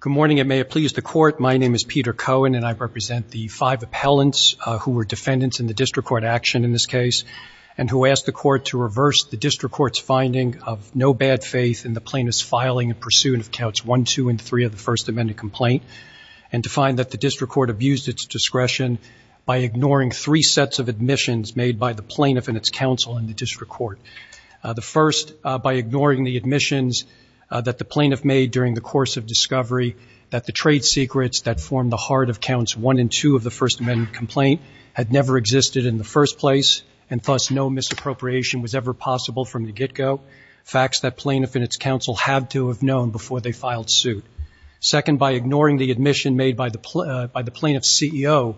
Good morning, and may it please the Court. My name is Peter Cohen, and I represent the five appellants who were defendants in the District Court action in this case, and who asked the Court to reverse the District Court's finding of no bad faith in the plaintiff's filing in pursuit of Counts 1, 2, and 3 of the First Amendment complaint, and to find that the District Court abused its discretion by ignoring three sets of admissions made by the plaintiff and its counsel in the District Court. The first, by ignoring the admissions that the plaintiff made during the course of discovery, that the trade secrets that formed the heart of Counts 1 and 2 of the First Amendment complaint had never existed in the first place, and thus no misappropriation was ever possible from the get-go, facts that plaintiff and its counsel had to have known before they filed suit. Second, by ignoring the admission made by the plaintiff's CEO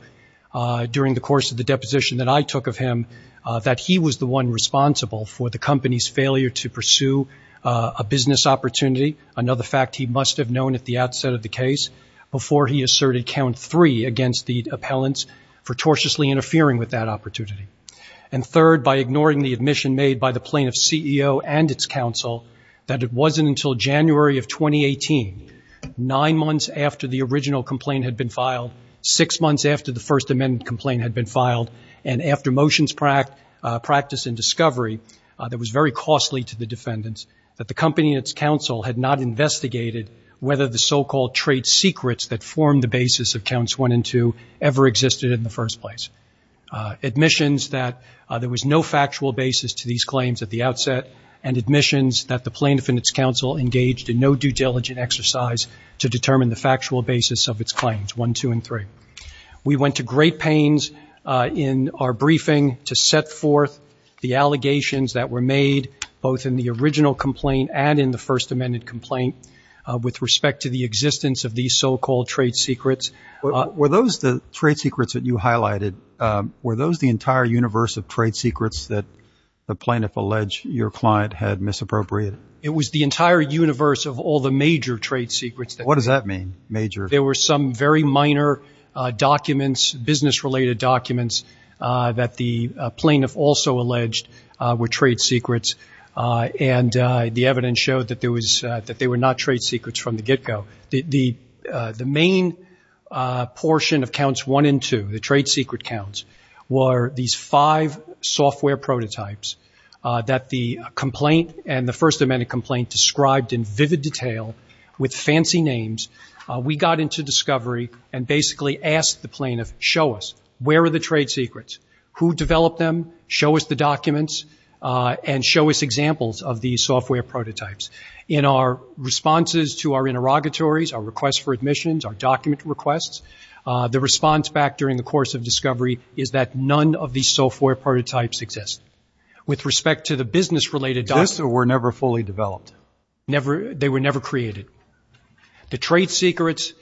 during the course of the deposition that I this opportunity, another fact he must have known at the outset of the case, before he asserted Count 3 against the appellants for tortiously interfering with that opportunity. And third, by ignoring the admission made by the plaintiff's CEO and its counsel that it wasn't until January of 2018, nine months after the original complaint had been filed, six months after the First Amendment complaint had been filed, and after motions practice and discovery that was very costly to the defendants, that the company and its counsel had not investigated whether the so-called trade secrets that formed the basis of Counts 1 and 2 ever existed in the first place. Admissions that there was no factual basis to these claims at the outset, and admissions that the plaintiff and its counsel engaged in no due diligence exercise to determine the factual basis of its claims, 1, 2, and 3. We went to great pains in our briefing to set forth the allegations that were made both in the original complaint and in the First Amendment complaint with respect to the existence of these so-called trade secrets. Were those the trade secrets that you highlighted, were those the entire universe of trade secrets that the plaintiff alleged your client had misappropriated? It was the entire universe of all the major trade secrets. What does that mean, major? There were some very minor documents, business-related documents, that the plaintiff also alleged were trade secrets, and the evidence showed that there was, that they were not trade secrets from the get-go. The main portion of Counts 1 and 2, the trade secret counts, were these five software prototypes that the complaint and the First Amendment complaint described in vivid detail with fancy names. We got into discovery and basically asked the plaintiff, show us, where are the trade secrets? Who developed them? Show us the documents and show us examples of these software prototypes. In our responses to our interrogatories, our requests for admissions, our document requests, the response back during the course of discovery is that none of these software prototypes exist with respect to the business-related documents. Those were never fully developed? They were never created. The trade secrets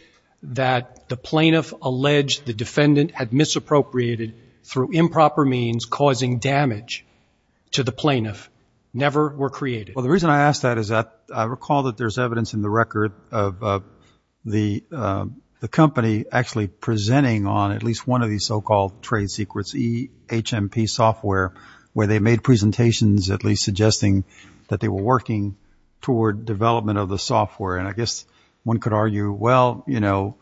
that the plaintiff alleged the defendant had misappropriated through improper means, causing damage to the plaintiff, never were created. Well, the reason I ask that is that I recall that there's evidence in the record of the company actually presenting on at least one of these so-called trade secrets, EHMP software, where they made presentations at least suggesting that they were working toward development of the software. And I guess one could argue, well, you know,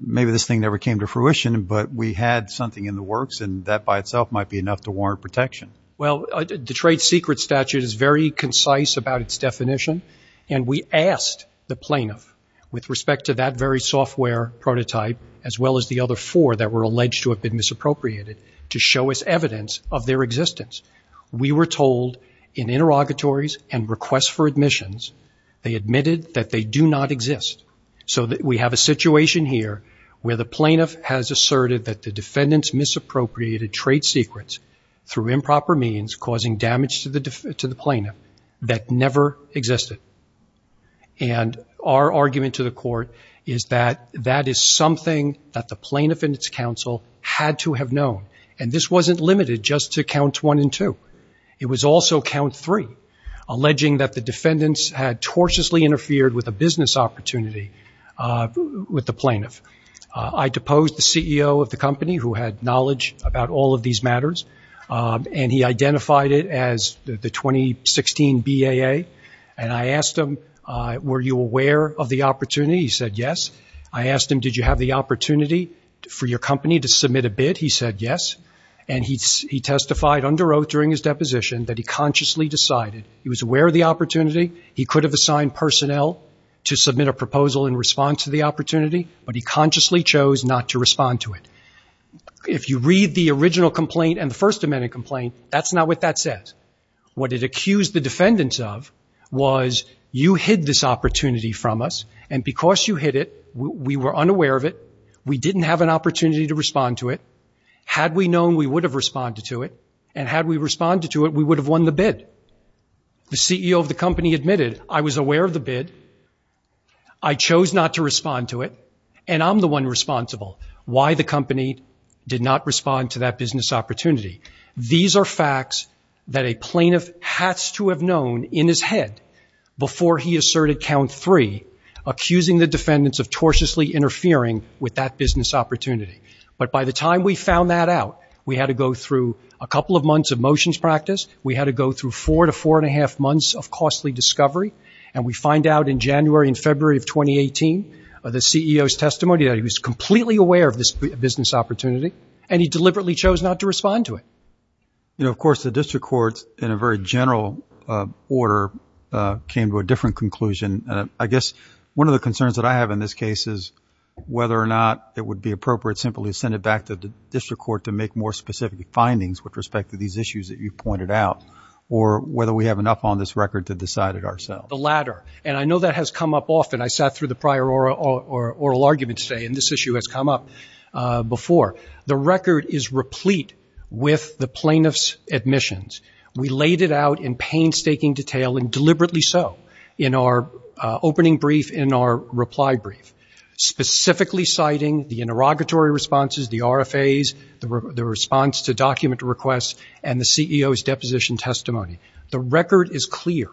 maybe this thing never came to fruition, but we had something in the works, and that by itself might be enough to warrant protection. Well, the trade secret statute is very concise about its definition, and we asked the plaintiff with respect to that very software prototype, as well as the other four that were alleged to have been misappropriated, to show us evidence of their existence. We were told in interrogatories and requests for admissions, they admitted that they do not exist. So we have a situation here where the plaintiff has asserted that the defendant's misappropriated trade secrets through improper means causing damage to the plaintiff that never existed. And our argument to the court is that that is something that the plaintiff and its counsel had to have known. And this wasn't limited just to count one and two. It was also count three, alleging that the defendants had tortiously interfered with a business opportunity with the plaintiff. I deposed the CEO of the company who had knowledge about all of these matters, and he identified it as the 2016 BAA. And I asked him, were you aware of the opportunity? He said yes. I asked him, did you have the opportunity for your company to submit a bid? He said yes. And he testified under oath during his deposition that he consciously decided. He was aware of the opportunity. He could have assigned personnel to submit a proposal in response to the opportunity, but he consciously chose not to respond to it. If you read the original complaint and the First Amendment complaint, that's not what that says. What it accused the defendants of was you hid this opportunity from us, and because you hid it, we were unaware of it, we didn't have an opportunity to respond to it. Had we known we would have responded to it, and had we responded to it, we would have won the bid. The CEO of the company admitted, I was aware of the bid, I chose not to respond to it, and I'm the one responsible. Why the company did not respond to that business opportunity. These are facts that a plaintiff has to have known in his head before he asserted count three, accusing the defendants of tortiously interfering with that business opportunity. But by the time we found that out, we had to go through a couple of months of motions practice, we had to go through four to four and a half months of costly discovery, and we find out in January and February of 2018, the CEO's testimony that he was completely aware of this business opportunity, and he deliberately chose not to respond to it. You know, of course, the district court, in a very general order, came to a different conclusion. I guess one of the concerns that I have in this case is whether or not it would be appropriate simply to send it back to the district court to make more specific findings with respect to these issues that you pointed out, or whether we have enough on this record to decide it ourselves. The latter, and I know that has come up often. I sat through the prior oral argument today, and this issue has come up before. The record is replete with the plaintiff's admissions. We laid it out in painstaking detail, and deliberately so, in our opening brief, in our reply brief, specifically citing the interrogatory responses, the RFAs, the response to document requests, and the CEO's deposition testimony. The record is clear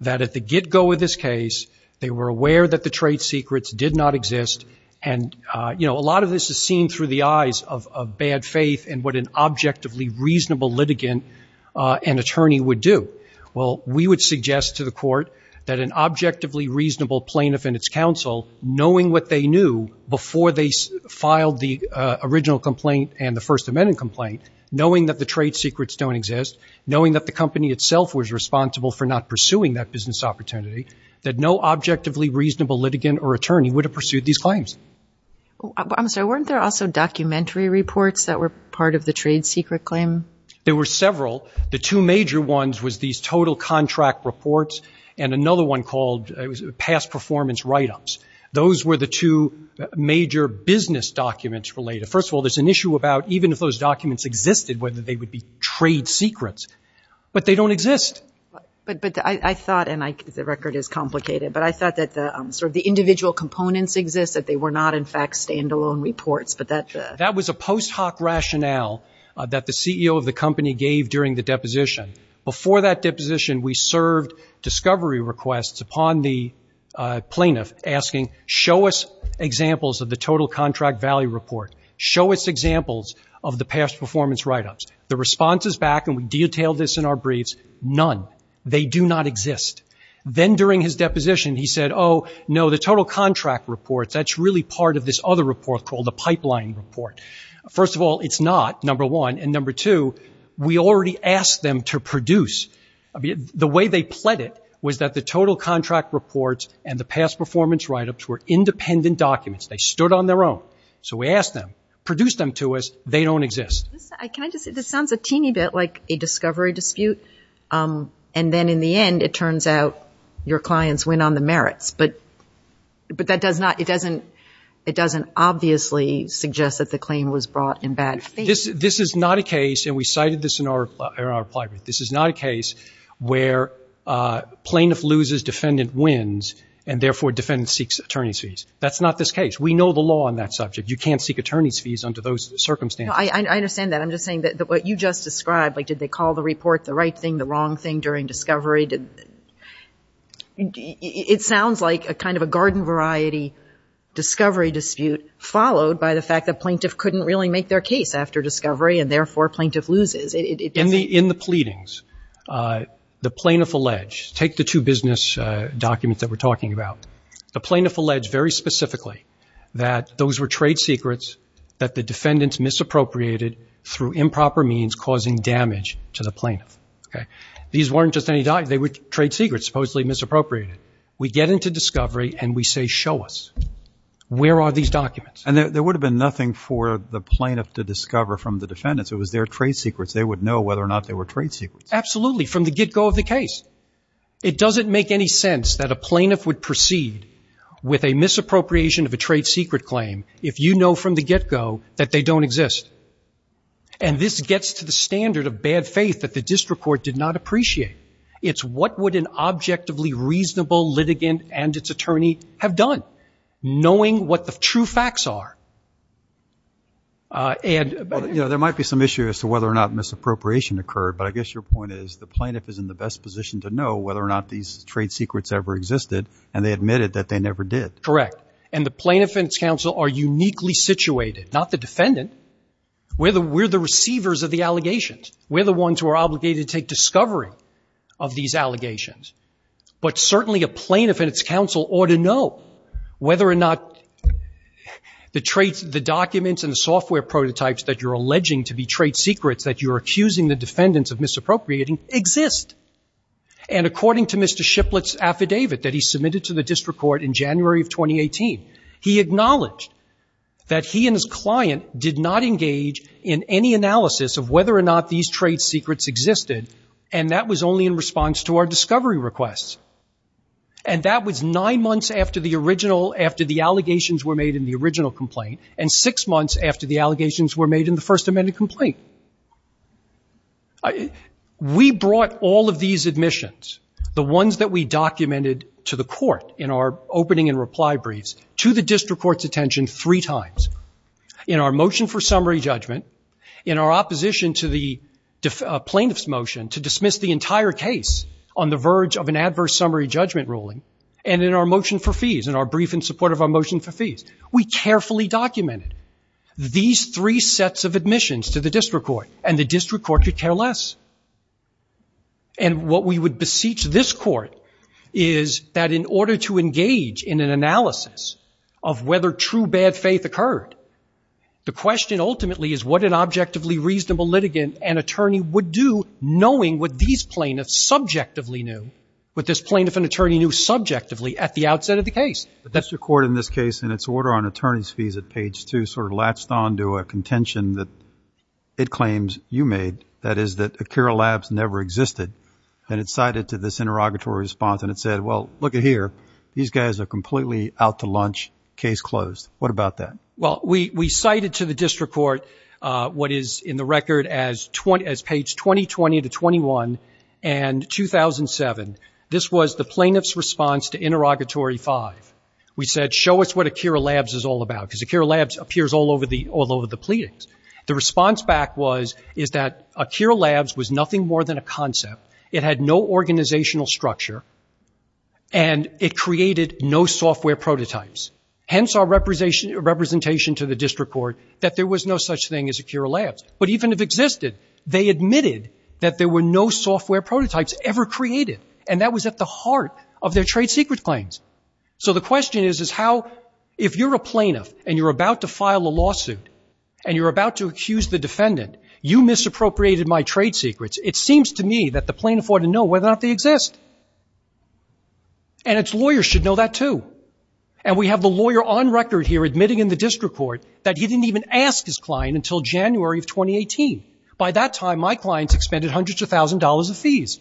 that at the get-go of this case, they were aware that the trade secrets did not exist, and, you know, a lot of this is seen through the eyes of bad faith in what an objectively reasonable litigant and attorney would do. Well, we would suggest to the court that an objectively reasonable plaintiff and its counsel, knowing what they knew before they filed the original complaint and the First Amendment complaint, knowing that the trade secrets don't exist, knowing that the company itself was responsible for not pursuing that business opportunity, that no objectively reasonable litigant or attorney would have pursued these claims. I'm sorry, weren't there also documentary reports that were part of the trade secret claim? There were several. The two major ones was these total contract reports, and another one called past performance write-ups. Those were the two major business documents related. First of all, there's an issue about even if those documents existed, whether they would be trade secrets, but they don't exist. But I thought, and the record is complicated, but I thought that sort of the individual components exist, that they were not, in fact, stand-alone reports, but that the That was a post hoc rationale that the CEO of the company gave during the deposition. Before that deposition, we served discovery requests upon the plaintiff asking, show us examples of the total contract value report. Show us examples of the past performance write-ups. The response is back, and we detail this in our briefs, none. They do not exist. Then during his deposition, he said, oh, no, the total contract reports, that's really part of this other report called the pipeline report. First of all, it's not, number one, and number two, we already asked them to produce. The way they pled it was that the total contract reports and the past performance write-ups were independent documents. They stood on their own. So we asked them, produce them to us. They don't exist. Can I just, this sounds a teeny bit like a discovery dispute, and then in the end, it turns out your clients win on the merits, but that does not, it doesn't, it doesn't obviously suggest that the claim was brought in bad faith. This is not a case, and we cited this in our, in our reply brief. This is not a case where plaintiff loses, defendant wins, and therefore defendant seeks attorney's fees. That's not this case. We know the law on that subject. You can't seek attorney's fees under those circumstances. No, I understand that. I'm just saying that what you just described, like did they call the report the right thing, the wrong thing during discovery? It sounds like a kind of a garden variety discovery dispute followed by the fact that plaintiff couldn't really make their case after discovery, and therefore plaintiff loses. It doesn't In the pleadings, the plaintiff alleged, take the two business documents that we're talking about. The plaintiff alleged very specifically that those were trade secrets that the defendants misappropriated through improper means causing damage to the plaintiff, okay? These weren't just any documents. They were trade secrets supposedly misappropriated. We get into discovery and we say, show us. Where are these documents? And there would have been nothing for the plaintiff to discover from the defendants. It was their trade secrets. They would know whether or not they were trade secrets. Absolutely, from the get-go of the case. It doesn't make any sense that a plaintiff would proceed with a misappropriation of a trade secret claim if you know from the get-go that they don't exist. And this gets to the standard of bad faith that the district court did not appreciate. It's what would an objectively reasonable litigant and its attorney have done, knowing what the true facts are. There might be some issue as to whether or not misappropriation occurred, but I guess your point is the plaintiff is in the best position to know whether or not these trade secrets ever existed, and they admitted that they never did. Correct. And the plaintiff and its counsel are uniquely situated, not the defendant. We're the receivers of the allegations. We're the ones who are obligated to take discovery of these allegations. But certainly a plaintiff and its counsel ought to know whether or not the documents and the software prototypes that you're alleging to be trade secrets that you're accusing the defendants of misappropriating exist. And according to Mr. Shiplet's affidavit that he submitted to the district court in January of 2018, he acknowledged that he and his client did not engage in any analysis of whether or not these trade secrets existed, and that was only in response to our discovery requests. And that was nine months after the allegations were made in the First Amendment complaint. We brought all of these admissions, the ones that we documented to the court in our opening and reply briefs, to the district court's attention three times. In our motion for summary judgment, in our opposition to the plaintiff's motion to dismiss the entire case on the verge of an adverse summary judgment ruling, and in our motion for fees, in our brief in support of our motion for fees, we carefully documented these three sets of admissions to the district court, and the district court could care less. And what we would beseech this court is that in order to engage in an analysis of whether true bad faith occurred, the question ultimately is what an objectively reasonable litigant and attorney would do knowing what these plaintiffs subjectively knew, what this plaintiff and attorney knew subjectively at the outset of the case. The district court in this case, in its order on attorney's fees at page two, sort of latched on to a contention that it claims you made, that is that Acura Labs never existed. And it cited to this interrogatory response, and it said, well, look at here, these guys are completely out to lunch, case closed. What about that? Well, we cited to the district court what is in the record as page 2020 to 21 and 2007. This was the plaintiff's response to interrogatory five. We said, show us what Acura Labs is all about, because Acura Labs appears all over the pleadings. The response back was, is that Acura Labs was nothing more than a concept. It had no organizational structure, and it created no software prototypes. Hence our representation to the district court that there was no such thing as Acura Labs. But even if existed, they admitted that there were no software prototypes ever created, and that was at the heart of their trade secret claims. So the question is, is how, if you're a plaintiff and you're about to file a lawsuit, and you're about to accuse the defendant, you misappropriated my trade secrets, it seems to me that the plaintiff ought to know whether or not they exist. And its lawyers should know that too. And we have the lawyer on record here admitting in the district court that he didn't even ask his client until January of 2018. By that time, my clients expended hundreds of thousands of dollars of fees.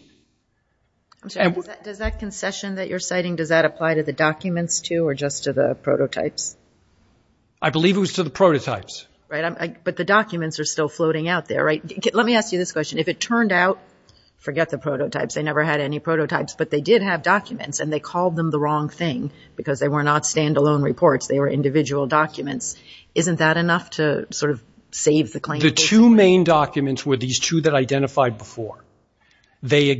I'm sorry, does that concession that you're citing, does that apply to the documents too, or just to the prototypes? I believe it was to the prototypes. But the documents are still floating out there, right? Let me ask you this question. If it turned out, forget the prototypes, they never had any prototypes, but they did have documents, and they called them the wrong thing, because they were not standalone reports, they were individual documents. Isn't that enough to sort of save the claim? The two main documents were these two that I identified before. They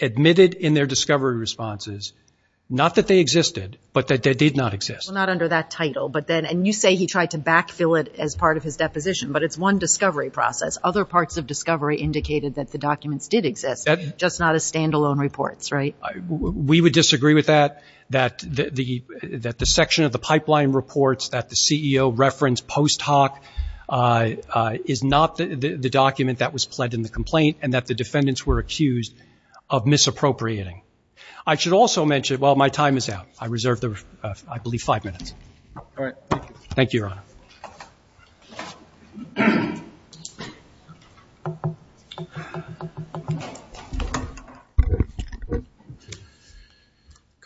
admitted in their discovery responses, not that they existed, but that they did not exist. Not under that title, but then, and you say he tried to backfill it as part of his deposition, but it's one discovery process. Other parts of discovery indicated that the documents did exist, just not as standalone reports, right? We would disagree with that, that the section of the pipeline reports that the CEO referenced post hoc is not the document that was pledged in the complaint, and that the defendants were accused of misappropriating. I should also mention, well, my time is out. I reserve the, I believe, five minutes. All right. Thank you, Your Honor.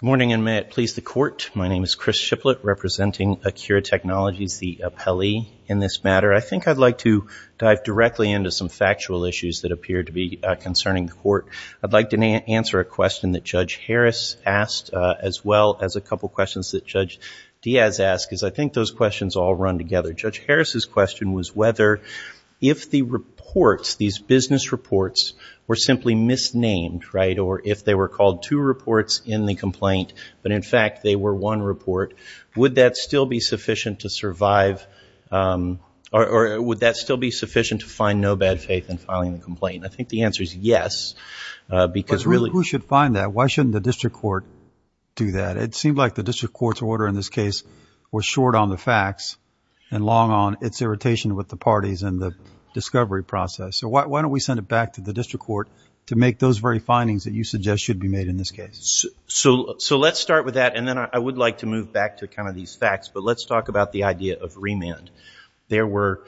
Good morning, and may it please the Court. My name is Chris Shiplett, representing Acura Technologies, the appellee in this matter. I think I'd like to dive directly into some factual issues that appear to be concerning the Court. I'd like to answer a question that Judge Harris asked, as well as a couple questions that Judge Diaz asked, because I think those questions all run together. Judge Harris's question was whether, if the reports, these business reports, were simply misnamed, right, or if they were called two reports in the complaint, but in fact they were one report, would that still be sufficient to survive, or would that still be sufficient to find no bad faith in filing the complaint? I think the answer is yes, because really— But who should find that? Why shouldn't the District Court do that? It seemed like the District Court's order in this case was short on the facts, and long on its irritation with the parties and the discovery process. So why don't we send it back to the District Court to make those very findings that you suggest should be made in this case? So let's start with that, and then I would like to move back to kind of these facts, but let's talk about the idea of remand. There were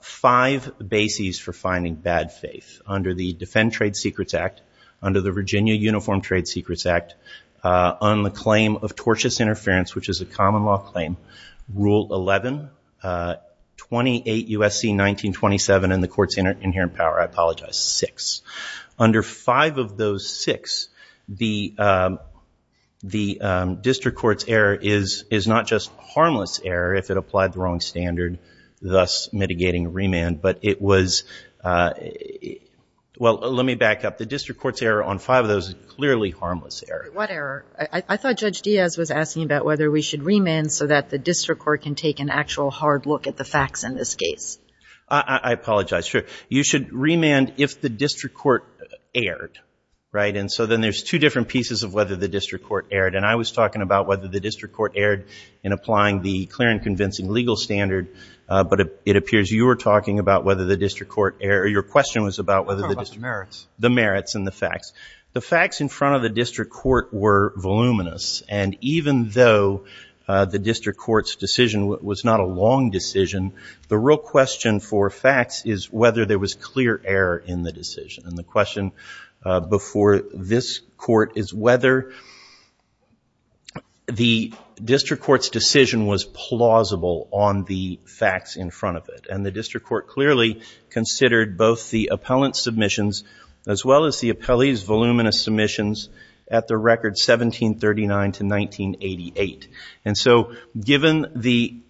five bases for finding bad faith. Under the Defend Trade Secrets Act, under the Virginia Uniform Trade Secrets Act, on the claim of tortious interference, which is a common law claim, Rule 11, 28 U.S.C. 1927, and the Court's inherent power, I apologize, six. Under five of those six, the District Court's error is not just harmless error if it applied the wrong standard, thus mitigating remand, but it was—well, let me back up. The District Court's error on five of those is clearly harmless error. What error? I thought Judge Diaz was asking about whether we should remand so that the District Court can take an actual hard look at the facts in this case. I apologize. Sure. You should remand if the District Court erred, right? And so then there's two different pieces of whether the District Court erred, and I was talking about whether the District Court erred in applying the clear and convincing legal standard, but it appears you were talking about whether the District Court erred—or your question was about whether the District Court— I was talking about the merits. The merits and the facts. The facts in front of the District Court were voluminous, and the question for facts is whether there was clear error in the decision. And the question before this Court is whether the District Court's decision was plausible on the facts in front of it. And the District Court clearly considered both the appellant's submissions as well as the appellee's voluminous submissions at the record 1739 to 1988. And so, given the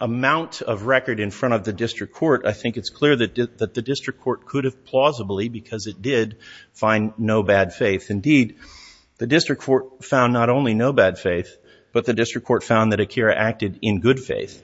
amount of record in front of the District Court, I think it's clear that the District Court could have plausibly, because it did, find no bad faith. Indeed, the District Court found not only no bad faith, but the District Court found that Akira acted in good faith.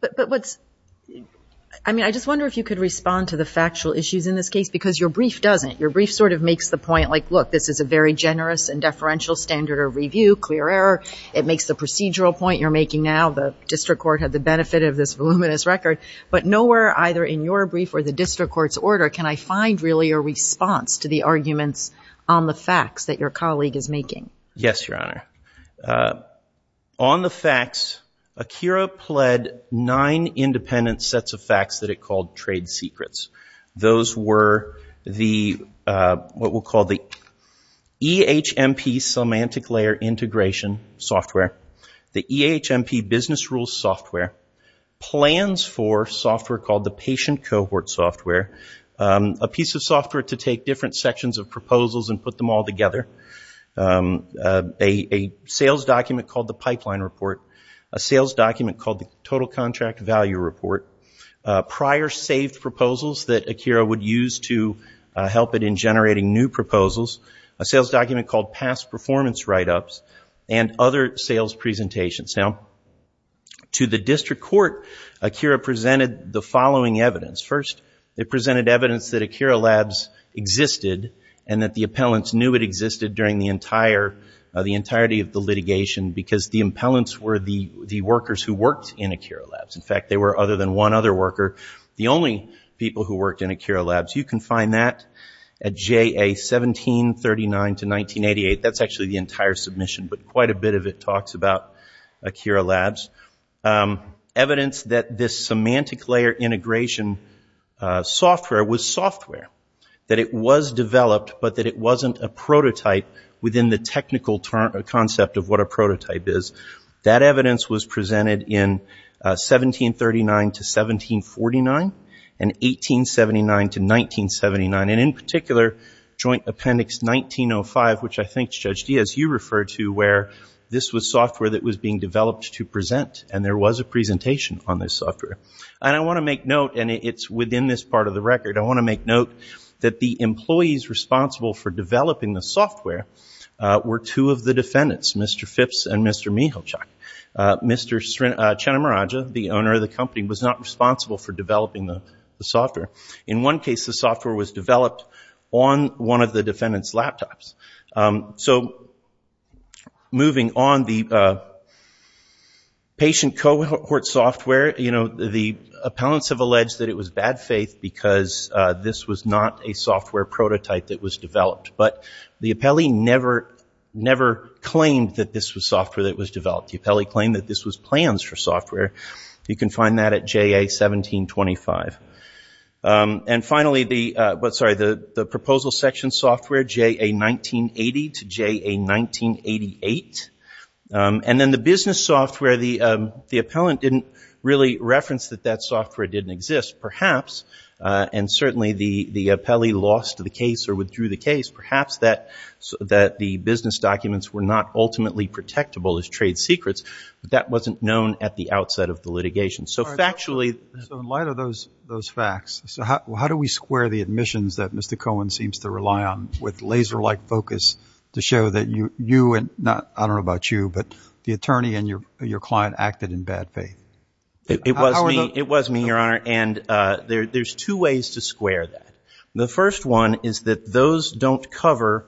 But what's—I mean, I just wonder if you could respond to the factual issues in this case, because your brief doesn't. Your brief sort of makes the point, like, look, this is a very generous and deferential standard of review, clear error. It makes the procedural point you're making now. The District Court had the benefit of this voluminous record. But nowhere, either in your brief or the District Court's order, can I find, really, a response to the arguments on the facts that your colleague is making. Yes, Your Honor. On the facts, Akira pled nine independent sets of facts that it called trade secrets. Those were the—what we'll call the EHMP semantic layer integration software, the EHMP business rules software, plans for software called the patient cohort software, a piece of software to take different sections of proposals and put them all together, a sales document called the pipeline report, a sales document called the total contract value report, prior saved proposals that Akira would use to help it in generating new proposals, a sales document called past performance write-ups, and other sales presentations. Now, to the District Court, Akira presented the following evidence. First, it presented evidence that Akira Labs existed and that the appellants knew it existed during the entire—the entirety of the litigation, because the appellants were the workers who worked in Akira Labs. In fact, they were, other than one other worker, the only people who worked in Akira Labs. You can find that at JA 1739 to 1988. That's actually the entire submission, but quite a bit of it talks about Akira Labs. Evidence that this semantic layer integration software was software, that it was developed, but that it wasn't a prototype within the technical concept of what a prototype is, that evidence was presented in 1739 to 1749 and 1879 to 1979. And in particular, Joint Appendix 1905, which I think Judge Diaz, you referred to where this was software that was being developed to present and there was a presentation on this software. And I want to make note, and it's within this part of the record, I want to make note that the employees responsible for developing the software were two of the defendants, Mr. Phipps and Mr. Michalczak. Mr. Chenomiraja, the owner of the company, was not responsible for developing the software. In one case, the software was developed on one of the defendant's laptops. So moving on, the patient cohort software, the appellants have alleged that it was bad faith because this was not a software prototype that was developed. But the appellee never claimed that this was software that was developed. The appellee claimed that this was plans for software. You can find that at JA 1725. And finally, the proposal section software, JA 1980 to JA 1988. And then the business software, the appellant didn't really reference that that software didn't exist. Perhaps, and certainly the appellee lost the case or withdrew the case, perhaps that the business documents were not ultimately protectable as trade secrets, but that wasn't known at the outset of the litigation. So factually- So in light of those facts, how do we square the admissions that Mr. Cohen seems to rely on with laser-like focus to show that you and, I don't know about you, but the attorney and your client acted in bad faith? It was me, it was me, Your Honor. And there's two ways to square that. The first one is that those don't cover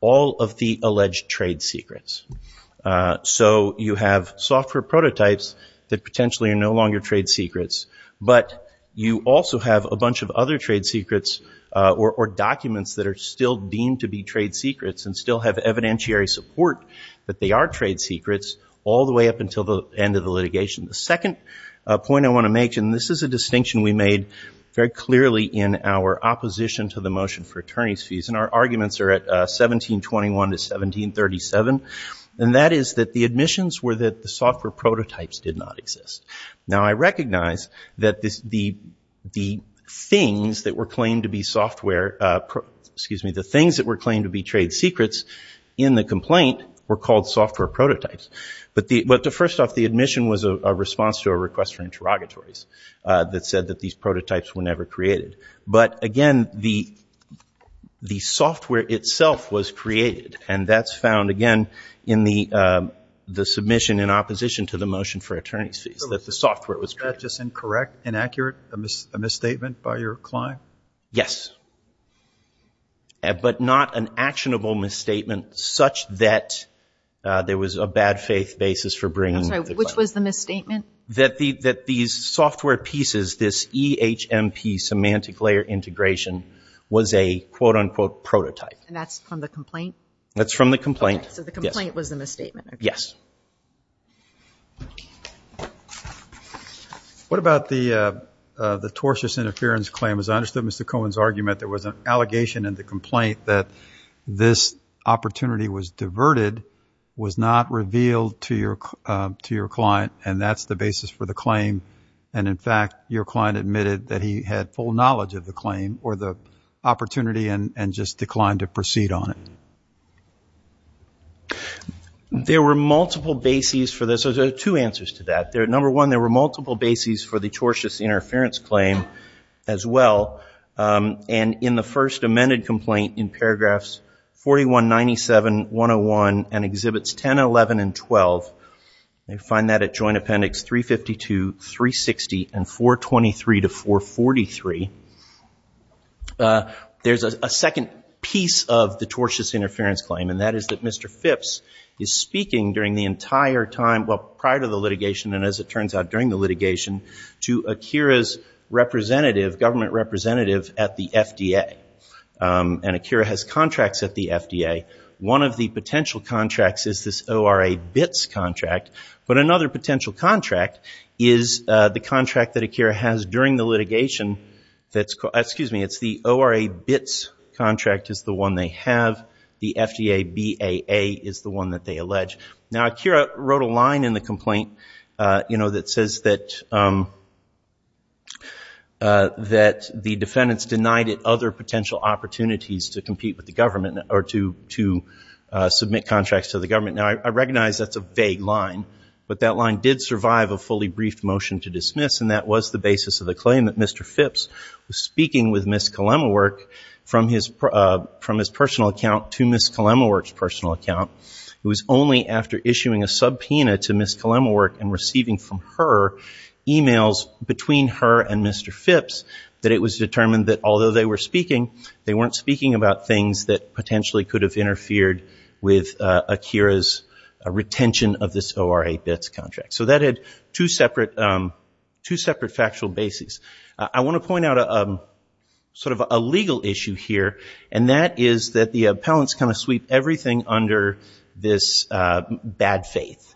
all of the alleged trade secrets. So you have software prototypes that potentially are no longer trade secrets, but you also have a bunch of other trade secrets or documents that are still deemed to be trade secrets and still have evidentiary support that they are trade secrets all the way up until the end of the litigation. The second point I want to make, and this is a distinction we made very clearly in our opposition to the motion for attorney's fees, and our arguments are at 1721 to 1737, and that is that the admissions were that the software prototypes did not exist. Now I recognize that the things that were claimed to be software, excuse me, the things that were claimed to be trade secrets in the complaint were called software prototypes. But first off, the admission was a response to a request for interrogatories that said that these prototypes were never created. But again, the software itself was created, and that's found, again, in the submission in opposition to the motion for attorney's fees, that the software was created. Is that just incorrect, inaccurate, a misstatement by your client? Yes. But not an actionable misstatement such that there was a bad faith basis for bringing the client. I'm sorry, which was the misstatement? That these software pieces, this EHMP, semantic layer integration, was a quote-unquote prototype. And that's from the complaint? That's from the complaint. Okay, so the complaint was the misstatement. Yes. What about the tortious interference claim? As I understood Mr. Cohen's argument, there was an allegation in the complaint that this opportunity was diverted, was not revealed to your client, and that's the basis for the claim. And in fact, your client admitted that he had full knowledge of the claim or the opportunity and just declined to proceed on it. There were multiple bases for this. There are two answers to that. Number one, there were multiple bases for the tortious interference claim as well. And in the first amended complaint in paragraphs 41, 97, 101, and exhibits 10, 11, and 12, you find that at Joint Appendix 352, 360, and 423 to 443, there's a second piece of the tortious interference claim, and that is that Mr. Phipps is speaking during the entire time, well, prior to the litigation and as it turns out during the litigation, to Akira's representative, government representative at the FDA. And Akira has contracts at the FDA. One of the potential contracts is this ORA BITS contract, but another potential contract is the contract that Akira has during the litigation that's called, excuse me, it's the ORA BITS contract is the one they have. The FDA BAA is the one that they allege. Now Akira wrote a line in the complaint, you know, that says that, that the defendant is denied other potential opportunities to compete with the government or to, to submit contracts to the government. Now I recognize that's a vague line, but that line did survive a fully briefed motion to dismiss. And that was the basis of the claim that Mr. Phipps was speaking with Ms. Kolemowork from his, from his personal account to Ms. Kolemowork's personal account. It was only after issuing a subpoena to Ms. Kolemowork and receiving from her emails between her and Mr. Phipps that it was determined that although they were speaking, they weren't speaking about things that potentially could have interfered with Akira's retention of this ORA BITS contract. So that had two separate, two separate factual bases. I want to point out a sort of a legal issue here, and that is that the appellants kind of sweep everything under this bad faith,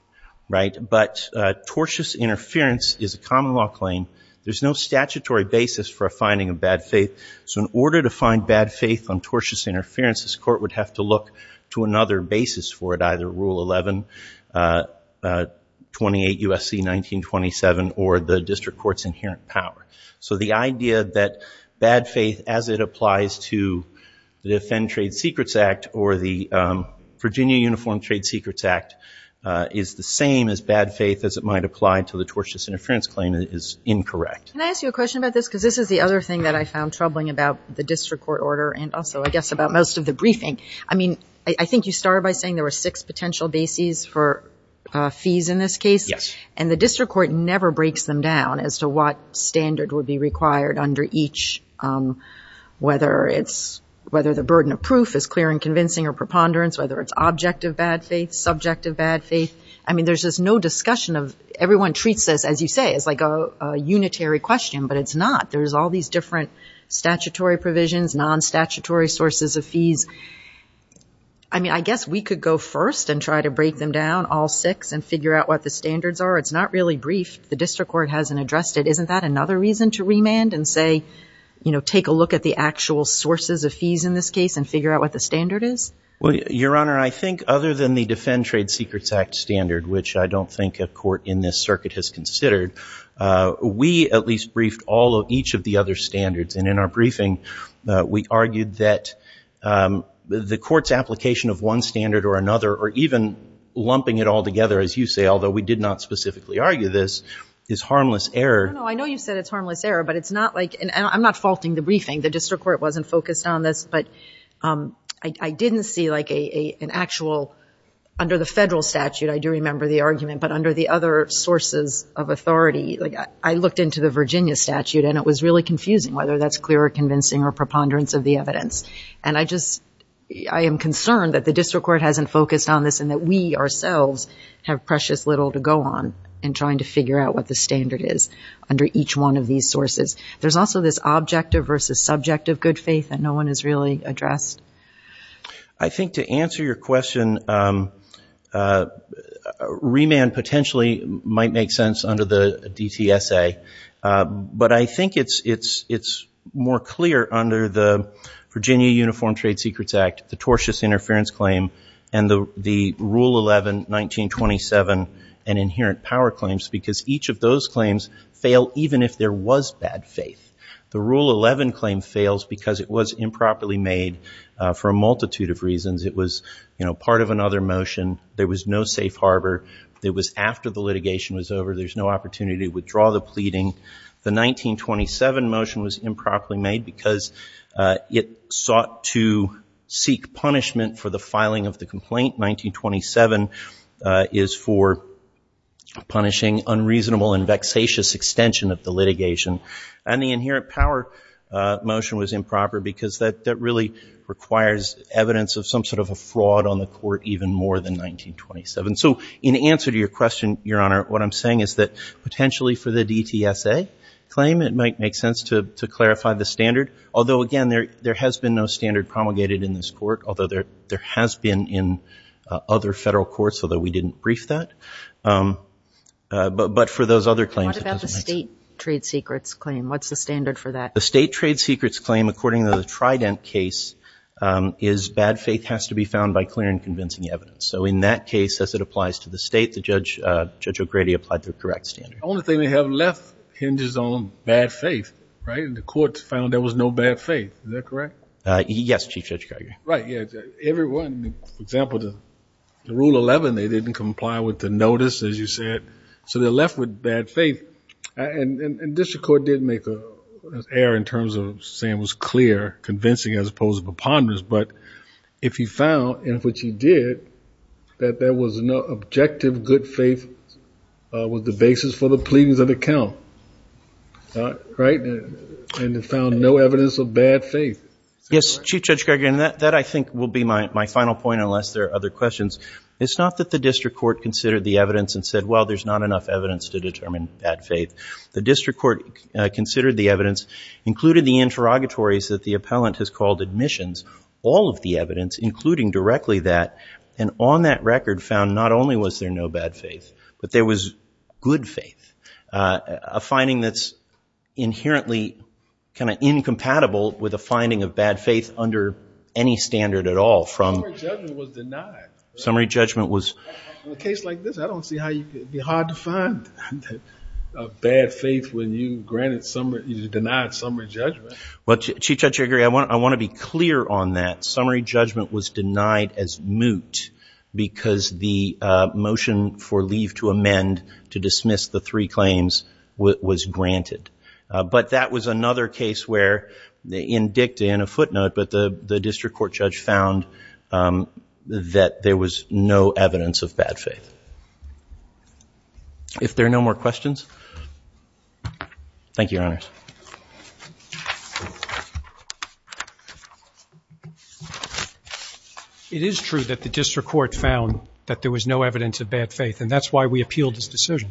right? But tortious interference is a common law claim. There's no statutory basis for a finding of bad faith. So in order to find bad faith on tortious interference, this court would have to look to another basis for it, either Rule 11, 28 U.S.C. 1927, or the district court's inherent power. So the idea that bad faith as it applies to the Defend Trade Secrets Act or the Virginia Uniform Trade Secrets Act is the same as bad faith as it might apply to the tortious interference claim is incorrect. Can I ask you a question about this? Because this is the other thing that I found troubling about the district court order and also, I guess, about most of the briefing. I mean, I think you started by saying there were six potential bases for fees in this case. Yes. And the district court never breaks them down as to what standard would be required under each, whether the burden of proof is clear and convincing or preponderance, whether it's object of bad faith, subject of bad faith. I mean, there's just no discussion of, everyone treats this, as you say, as like a unitary question, but it's not. There's all these different statutory provisions, non-statutory sources of fees. I mean, I guess we could go first and try to break them down, all six, and figure out what the standards are. It's not really brief. The district court hasn't addressed it. Isn't that another reason to take a look at the actual sources of fees in this case and figure out what the standard is? Well, Your Honor, I think other than the Defend Trade Secrets Act standard, which I don't think a court in this circuit has considered, we at least briefed all of each of the other standards. And in our briefing, we argued that the court's application of one standard or another, or even lumping it all together, as you say, although we did not specifically argue this, is harmless error. I know you said it's harmless error, but it's not like, and I'm not faulting the briefing. The district court wasn't focused on this, but I didn't see like an actual, under the federal statute, I do remember the argument, but under the other sources of authority, like I looked into the Virginia statute and it was really confusing whether that's clear or convincing or preponderance of the evidence. And I just, I am concerned that the district court hasn't focused on this and that we ourselves have precious little to go on in trying to figure out what the standard is under each one of these sources. There's also this objective versus subjective good faith that no one has really addressed. I think to answer your question, remand potentially might make sense under the DTSA, but I think it's more clear under the Virginia Uniform Trade Secrets Act, the tortious interference claim, and the Rule 11, 1927, and inherent power claims, because each of those claims fail even if there was bad faith. The Rule 11 claim fails because it was improperly made for a multitude of reasons. It was, you know, part of another motion. There was no safe harbor. It was after the litigation was over. There's no opportunity to withdraw the pleading. The 1927 motion was improperly made because it sought to seek punishment for the filing of the complaint. 1927 is for punishing unreasonable and vexatious extension of the litigation. And the inherent power motion was improper because that really requires evidence of some sort of a fraud on the court even more than 1927. So in answer to your question, Your Honor, what I'm saying is that potentially for the DTSA claim, it might make sense to clarify the standard, although again, there has been no standard promulgated in this court, although there has been in other federal courts, although we didn't brief that. But for those other claims, it doesn't make sense. What about the state trade secrets claim? What's the standard for that? The state trade secrets claim, according to the Trident case, is bad faith has to be found by clear and convincing evidence. So in that case, as it applies to the state, Judge O'Grady applied the correct standard. The only thing they have left hinges on bad faith, right? And the court found there was no bad faith. Is that correct? Yes, Chief Judge Geiger. Right. Yeah. Everyone, for example, the rule 11, they didn't comply with the notice, as you said. So they're left with bad faith. And district court did make an error in terms of saying it was clear, convincing as opposed to preponderance. But if he found, and which he did, that there was no objective good faith was the basis for the count, right? And they found no evidence of bad faith. Yes, Chief Judge Geiger. And that I think will be my final point, unless there are other questions. It's not that the district court considered the evidence and said, well, there's not enough evidence to determine bad faith. The district court considered the evidence, included the interrogatories that the appellant has called admissions, all of the evidence, including directly that. And on that record found not only was there no bad faith, but there was good faith. A finding that's inherently kind of incompatible with a finding of bad faith under any standard at all from... Summary judgment was denied. Summary judgment was... In a case like this, I don't see how it'd be hard to find bad faith when you denied summary judgment. Well, Chief Judge Geiger, I want to be clear on that. Summary judgment was denied as moot because the motion for leave to amend to dismiss the three claims was granted. But that was another case where, in dicta, in a footnote, but the district court judge found that there was no evidence of bad faith. If there are no more questions. Thank you, Your Honors. It is true that the district court found that there was no evidence of bad faith, and that's why we appealed this decision.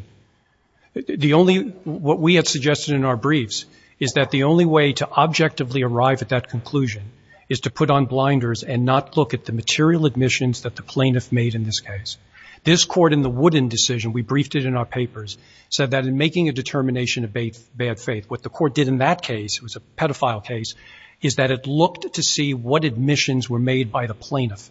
The only... What we had suggested in our briefs is that the only way to objectively arrive at that conclusion is to put on blinders and not look at the material admissions that the plaintiff made in this case. This court in the Wooden decision, we briefed it in our papers, said that in making a determination of bad faith, the court did in that case, it was a pedophile case, is that it looked to see what admissions were made by the plaintiff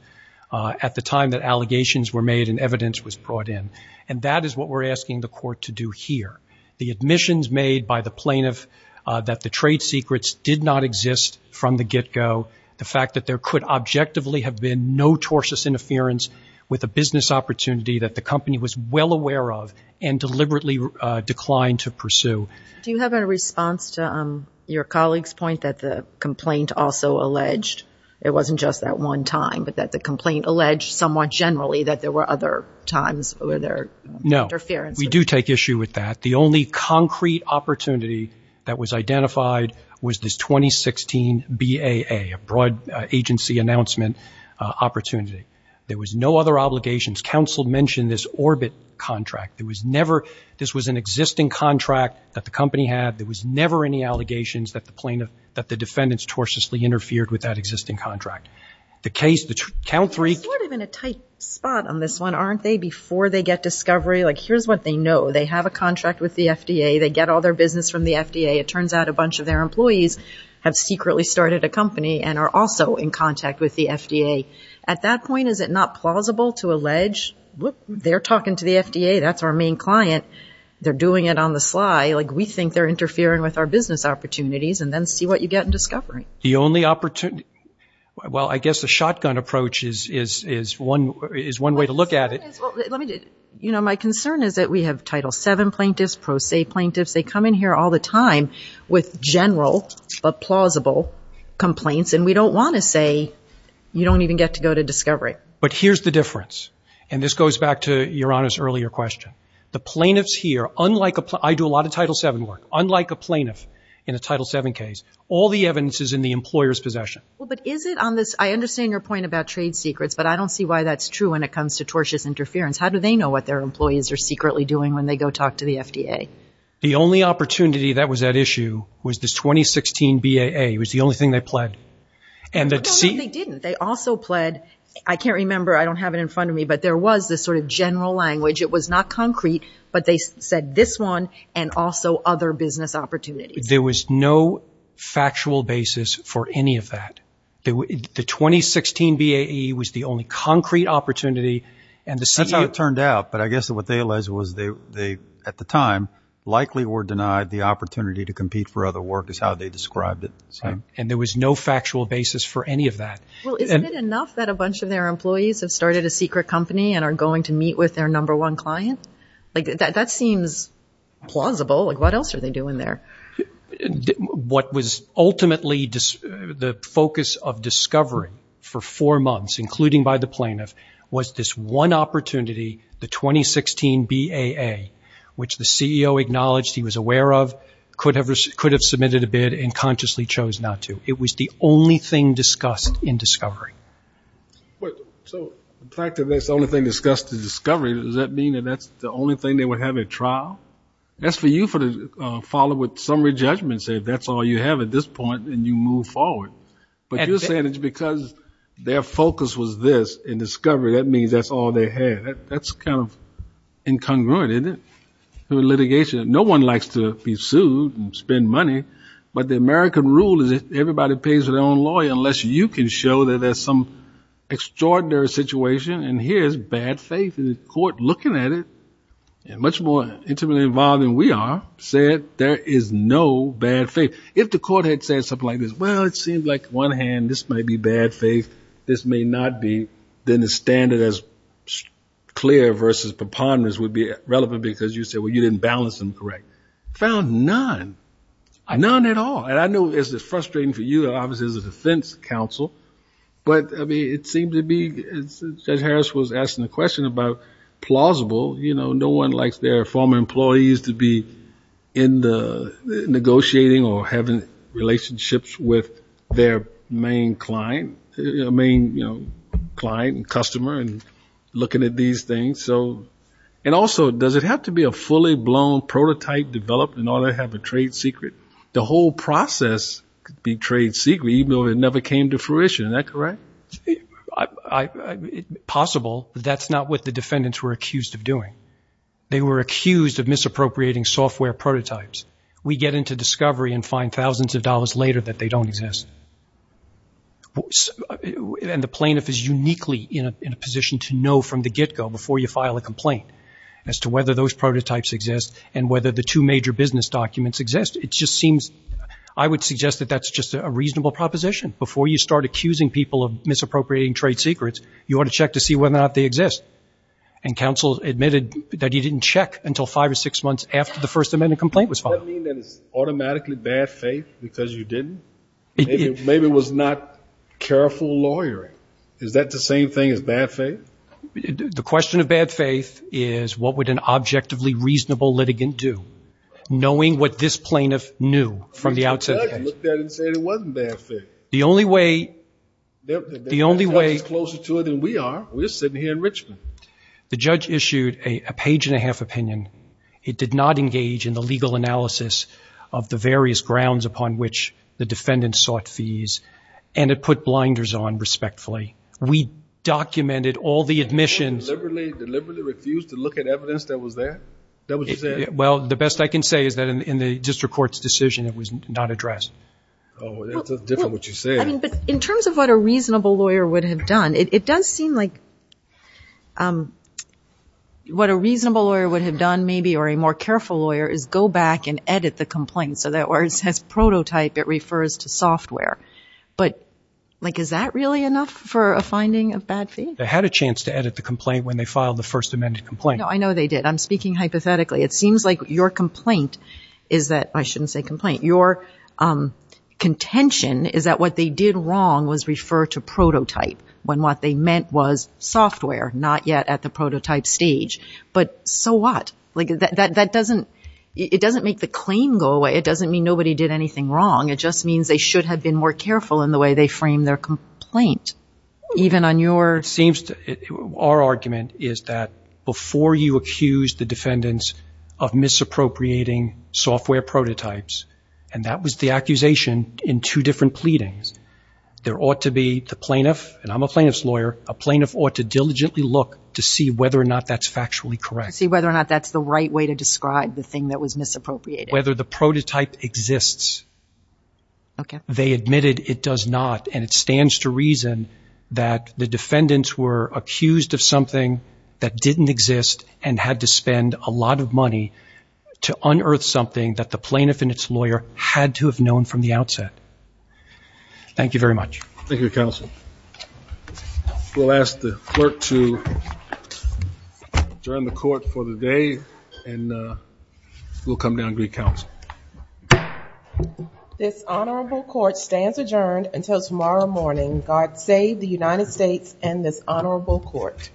at the time that allegations were made and evidence was brought in. And that is what we're asking the court to do here. The admissions made by the plaintiff that the trade secrets did not exist from the get-go, the fact that there could objectively have been no tortious interference with a business opportunity that the company was well aware of and deliberately declined to pursue. Do you have a response to your colleague's point that the complaint also alleged, it wasn't just that one time, but that the complaint alleged somewhat generally that there were other times where there were interferences? No. We do take issue with that. The only concrete opportunity that was identified was this 2016 BAA, a broad agency announcement opportunity. There was no other obligations. Counsel mentioned this Orbit contract. There was never, this was an existing contract that the company had. There was never any allegations that the plaintiff, that the defendants tortiously interfered with that existing contract. The case, the count three- They're sort of in a tight spot on this one, aren't they? Before they get discovery, like here's what they know. They have a contract with the FDA. They get all their business from the FDA. It turns out a bunch of their employees have secretly started a company and are also in They're talking to the FDA. That's our main client. They're doing it on the sly. We think they're interfering with our business opportunities and then see what you get in discovery. The only opportunity, well, I guess the shotgun approach is one way to look at it. My concern is that we have Title VII plaintiffs, pro se plaintiffs. They come in here all the time with general but plausible complaints and we don't want to say, you don't even get to go to discovery. But here's the difference, and this goes back to your honest earlier question. The plaintiffs here, unlike, I do a lot of Title VII work, unlike a plaintiff in a Title VII case, all the evidence is in the employer's possession. Well, but is it on this, I understand your point about trade secrets, but I don't see why that's true when it comes to tortious interference. How do they know what their employees are secretly doing when they go talk to the FDA? The only opportunity that was at issue was this 2016 BAA. It was the only thing they pled. No, no, they didn't. They also pled, I can't remember, I don't have it in front of me, but there was this sort of general language. It was not concrete, but they said this one and also other business opportunities. There was no factual basis for any of that. The 2016 BAA was the only concrete opportunity. And that's how it turned out. But I guess what they alleged was they, at the time, likely were denied the opportunity to compete for other work is how they described it. And there was no factual basis for any of that. Well, isn't it enough that a bunch of their employees have started a secret company and are going to meet with their number one client? That seems plausible. What else are they doing there? What was ultimately the focus of discovery for four months, including by the plaintiff, was this one opportunity, the 2016 BAA, which the CEO acknowledged he was aware of, could have submitted a bid and consciously chose not to. It was the only thing discussed in discovery. So the fact that that's the only thing discussed in discovery, does that mean that that's the only thing they would have at trial? That's for you to follow with summary judgment, say that's all you have at this point, and you move forward. But you're saying it's because their focus was this in discovery. That means that's all they had. That's kind of incongruent, isn't it, with litigation? No one likes to be sued and spend money, but the American rule is that everybody pays their own lawyer unless you can show that there's some extraordinary situation and here's bad faith. And the court, looking at it, and much more intimately involved than we are, said there is no bad faith. If the court had said something like this, well, it seems like one hand this might be bad faith, this may not be, then the standard as clear versus preponderance would be relevant because you said, well, you didn't balance them right. Found none, none at all. And I know it's frustrating for you, obviously, as a defense counsel, but it seems to be, Judge Harris was asking the question about plausible, no one likes their former employees to be in the negotiating or having relationships with their main client, main client and customer and looking at these things. And also, does it have to be a prototype developed in order to have a trade secret? The whole process could be trade secret, even though it never came to fruition. Is that correct? It's possible, but that's not what the defendants were accused of doing. They were accused of misappropriating software prototypes. We get into discovery and find thousands of dollars later that they don't exist. And the plaintiff is uniquely in a position to know from the get-go before you file a complaint as to whether those two major business documents exist. It just seems, I would suggest that that's just a reasonable proposition. Before you start accusing people of misappropriating trade secrets, you want to check to see whether or not they exist. And counsel admitted that he didn't check until five or six months after the First Amendment complaint was filed. Does that mean that it's automatically bad faith because you didn't? Maybe it was not careful lawyering. Is that the same thing as bad faith? The question of bad faith is what would an objectively reasonable litigant do, knowing what this plaintiff knew from the outset? The judge looked at it and said it wasn't bad faith. The only way... The judge is closer to it than we are. We're sitting here in Richmond. The judge issued a page and a half opinion. It did not engage in the legal analysis of the various grounds upon which the defendants sought fees, and it put blinders on respectfully. We documented all the admissions. Deliberately refused to look at evidence that was there? That what you said? Well, the best I can say is that in the district court's decision, it was not addressed. Oh, that's different what you said. I mean, but in terms of what a reasonable lawyer would have done, it does seem like what a reasonable lawyer would have done maybe, or a more careful lawyer, is go back and edit the complaint so that where it says prototype, it refers to software. But like, is that really enough for a finding of bad faith? They had a chance to edit the complaint when they filed the first amended complaint. No, I know they did. I'm speaking hypothetically. It seems like your complaint is that... I shouldn't say complaint. Your contention is that what they did wrong was refer to prototype, when what they meant was software, not yet at the prototype stage. But so what? Like, that doesn't... It doesn't make the claim go away. It doesn't mean nobody did anything wrong. It just means they should have been more careful in the way they framed their complaint, even on your... Seems to... Our argument is that before you accuse the defendants of misappropriating software prototypes, and that was the accusation in two different pleadings, there ought to be the plaintiff, and I'm a plaintiff's lawyer, a plaintiff ought to diligently look to see whether or not that's factually correct. See whether or not that's the right way to describe the thing that was okay. They admitted it does not, and it stands to reason that the defendants were accused of something that didn't exist and had to spend a lot of money to unearth something that the plaintiff and its lawyer had to have known from the outset. Thank you very much. Thank you, counsel. We'll ask the clerk to adjourn the court for the day, and we'll come down and greet counsel. This honorable court stands adjourned until tomorrow morning. God save the United States and this honorable court.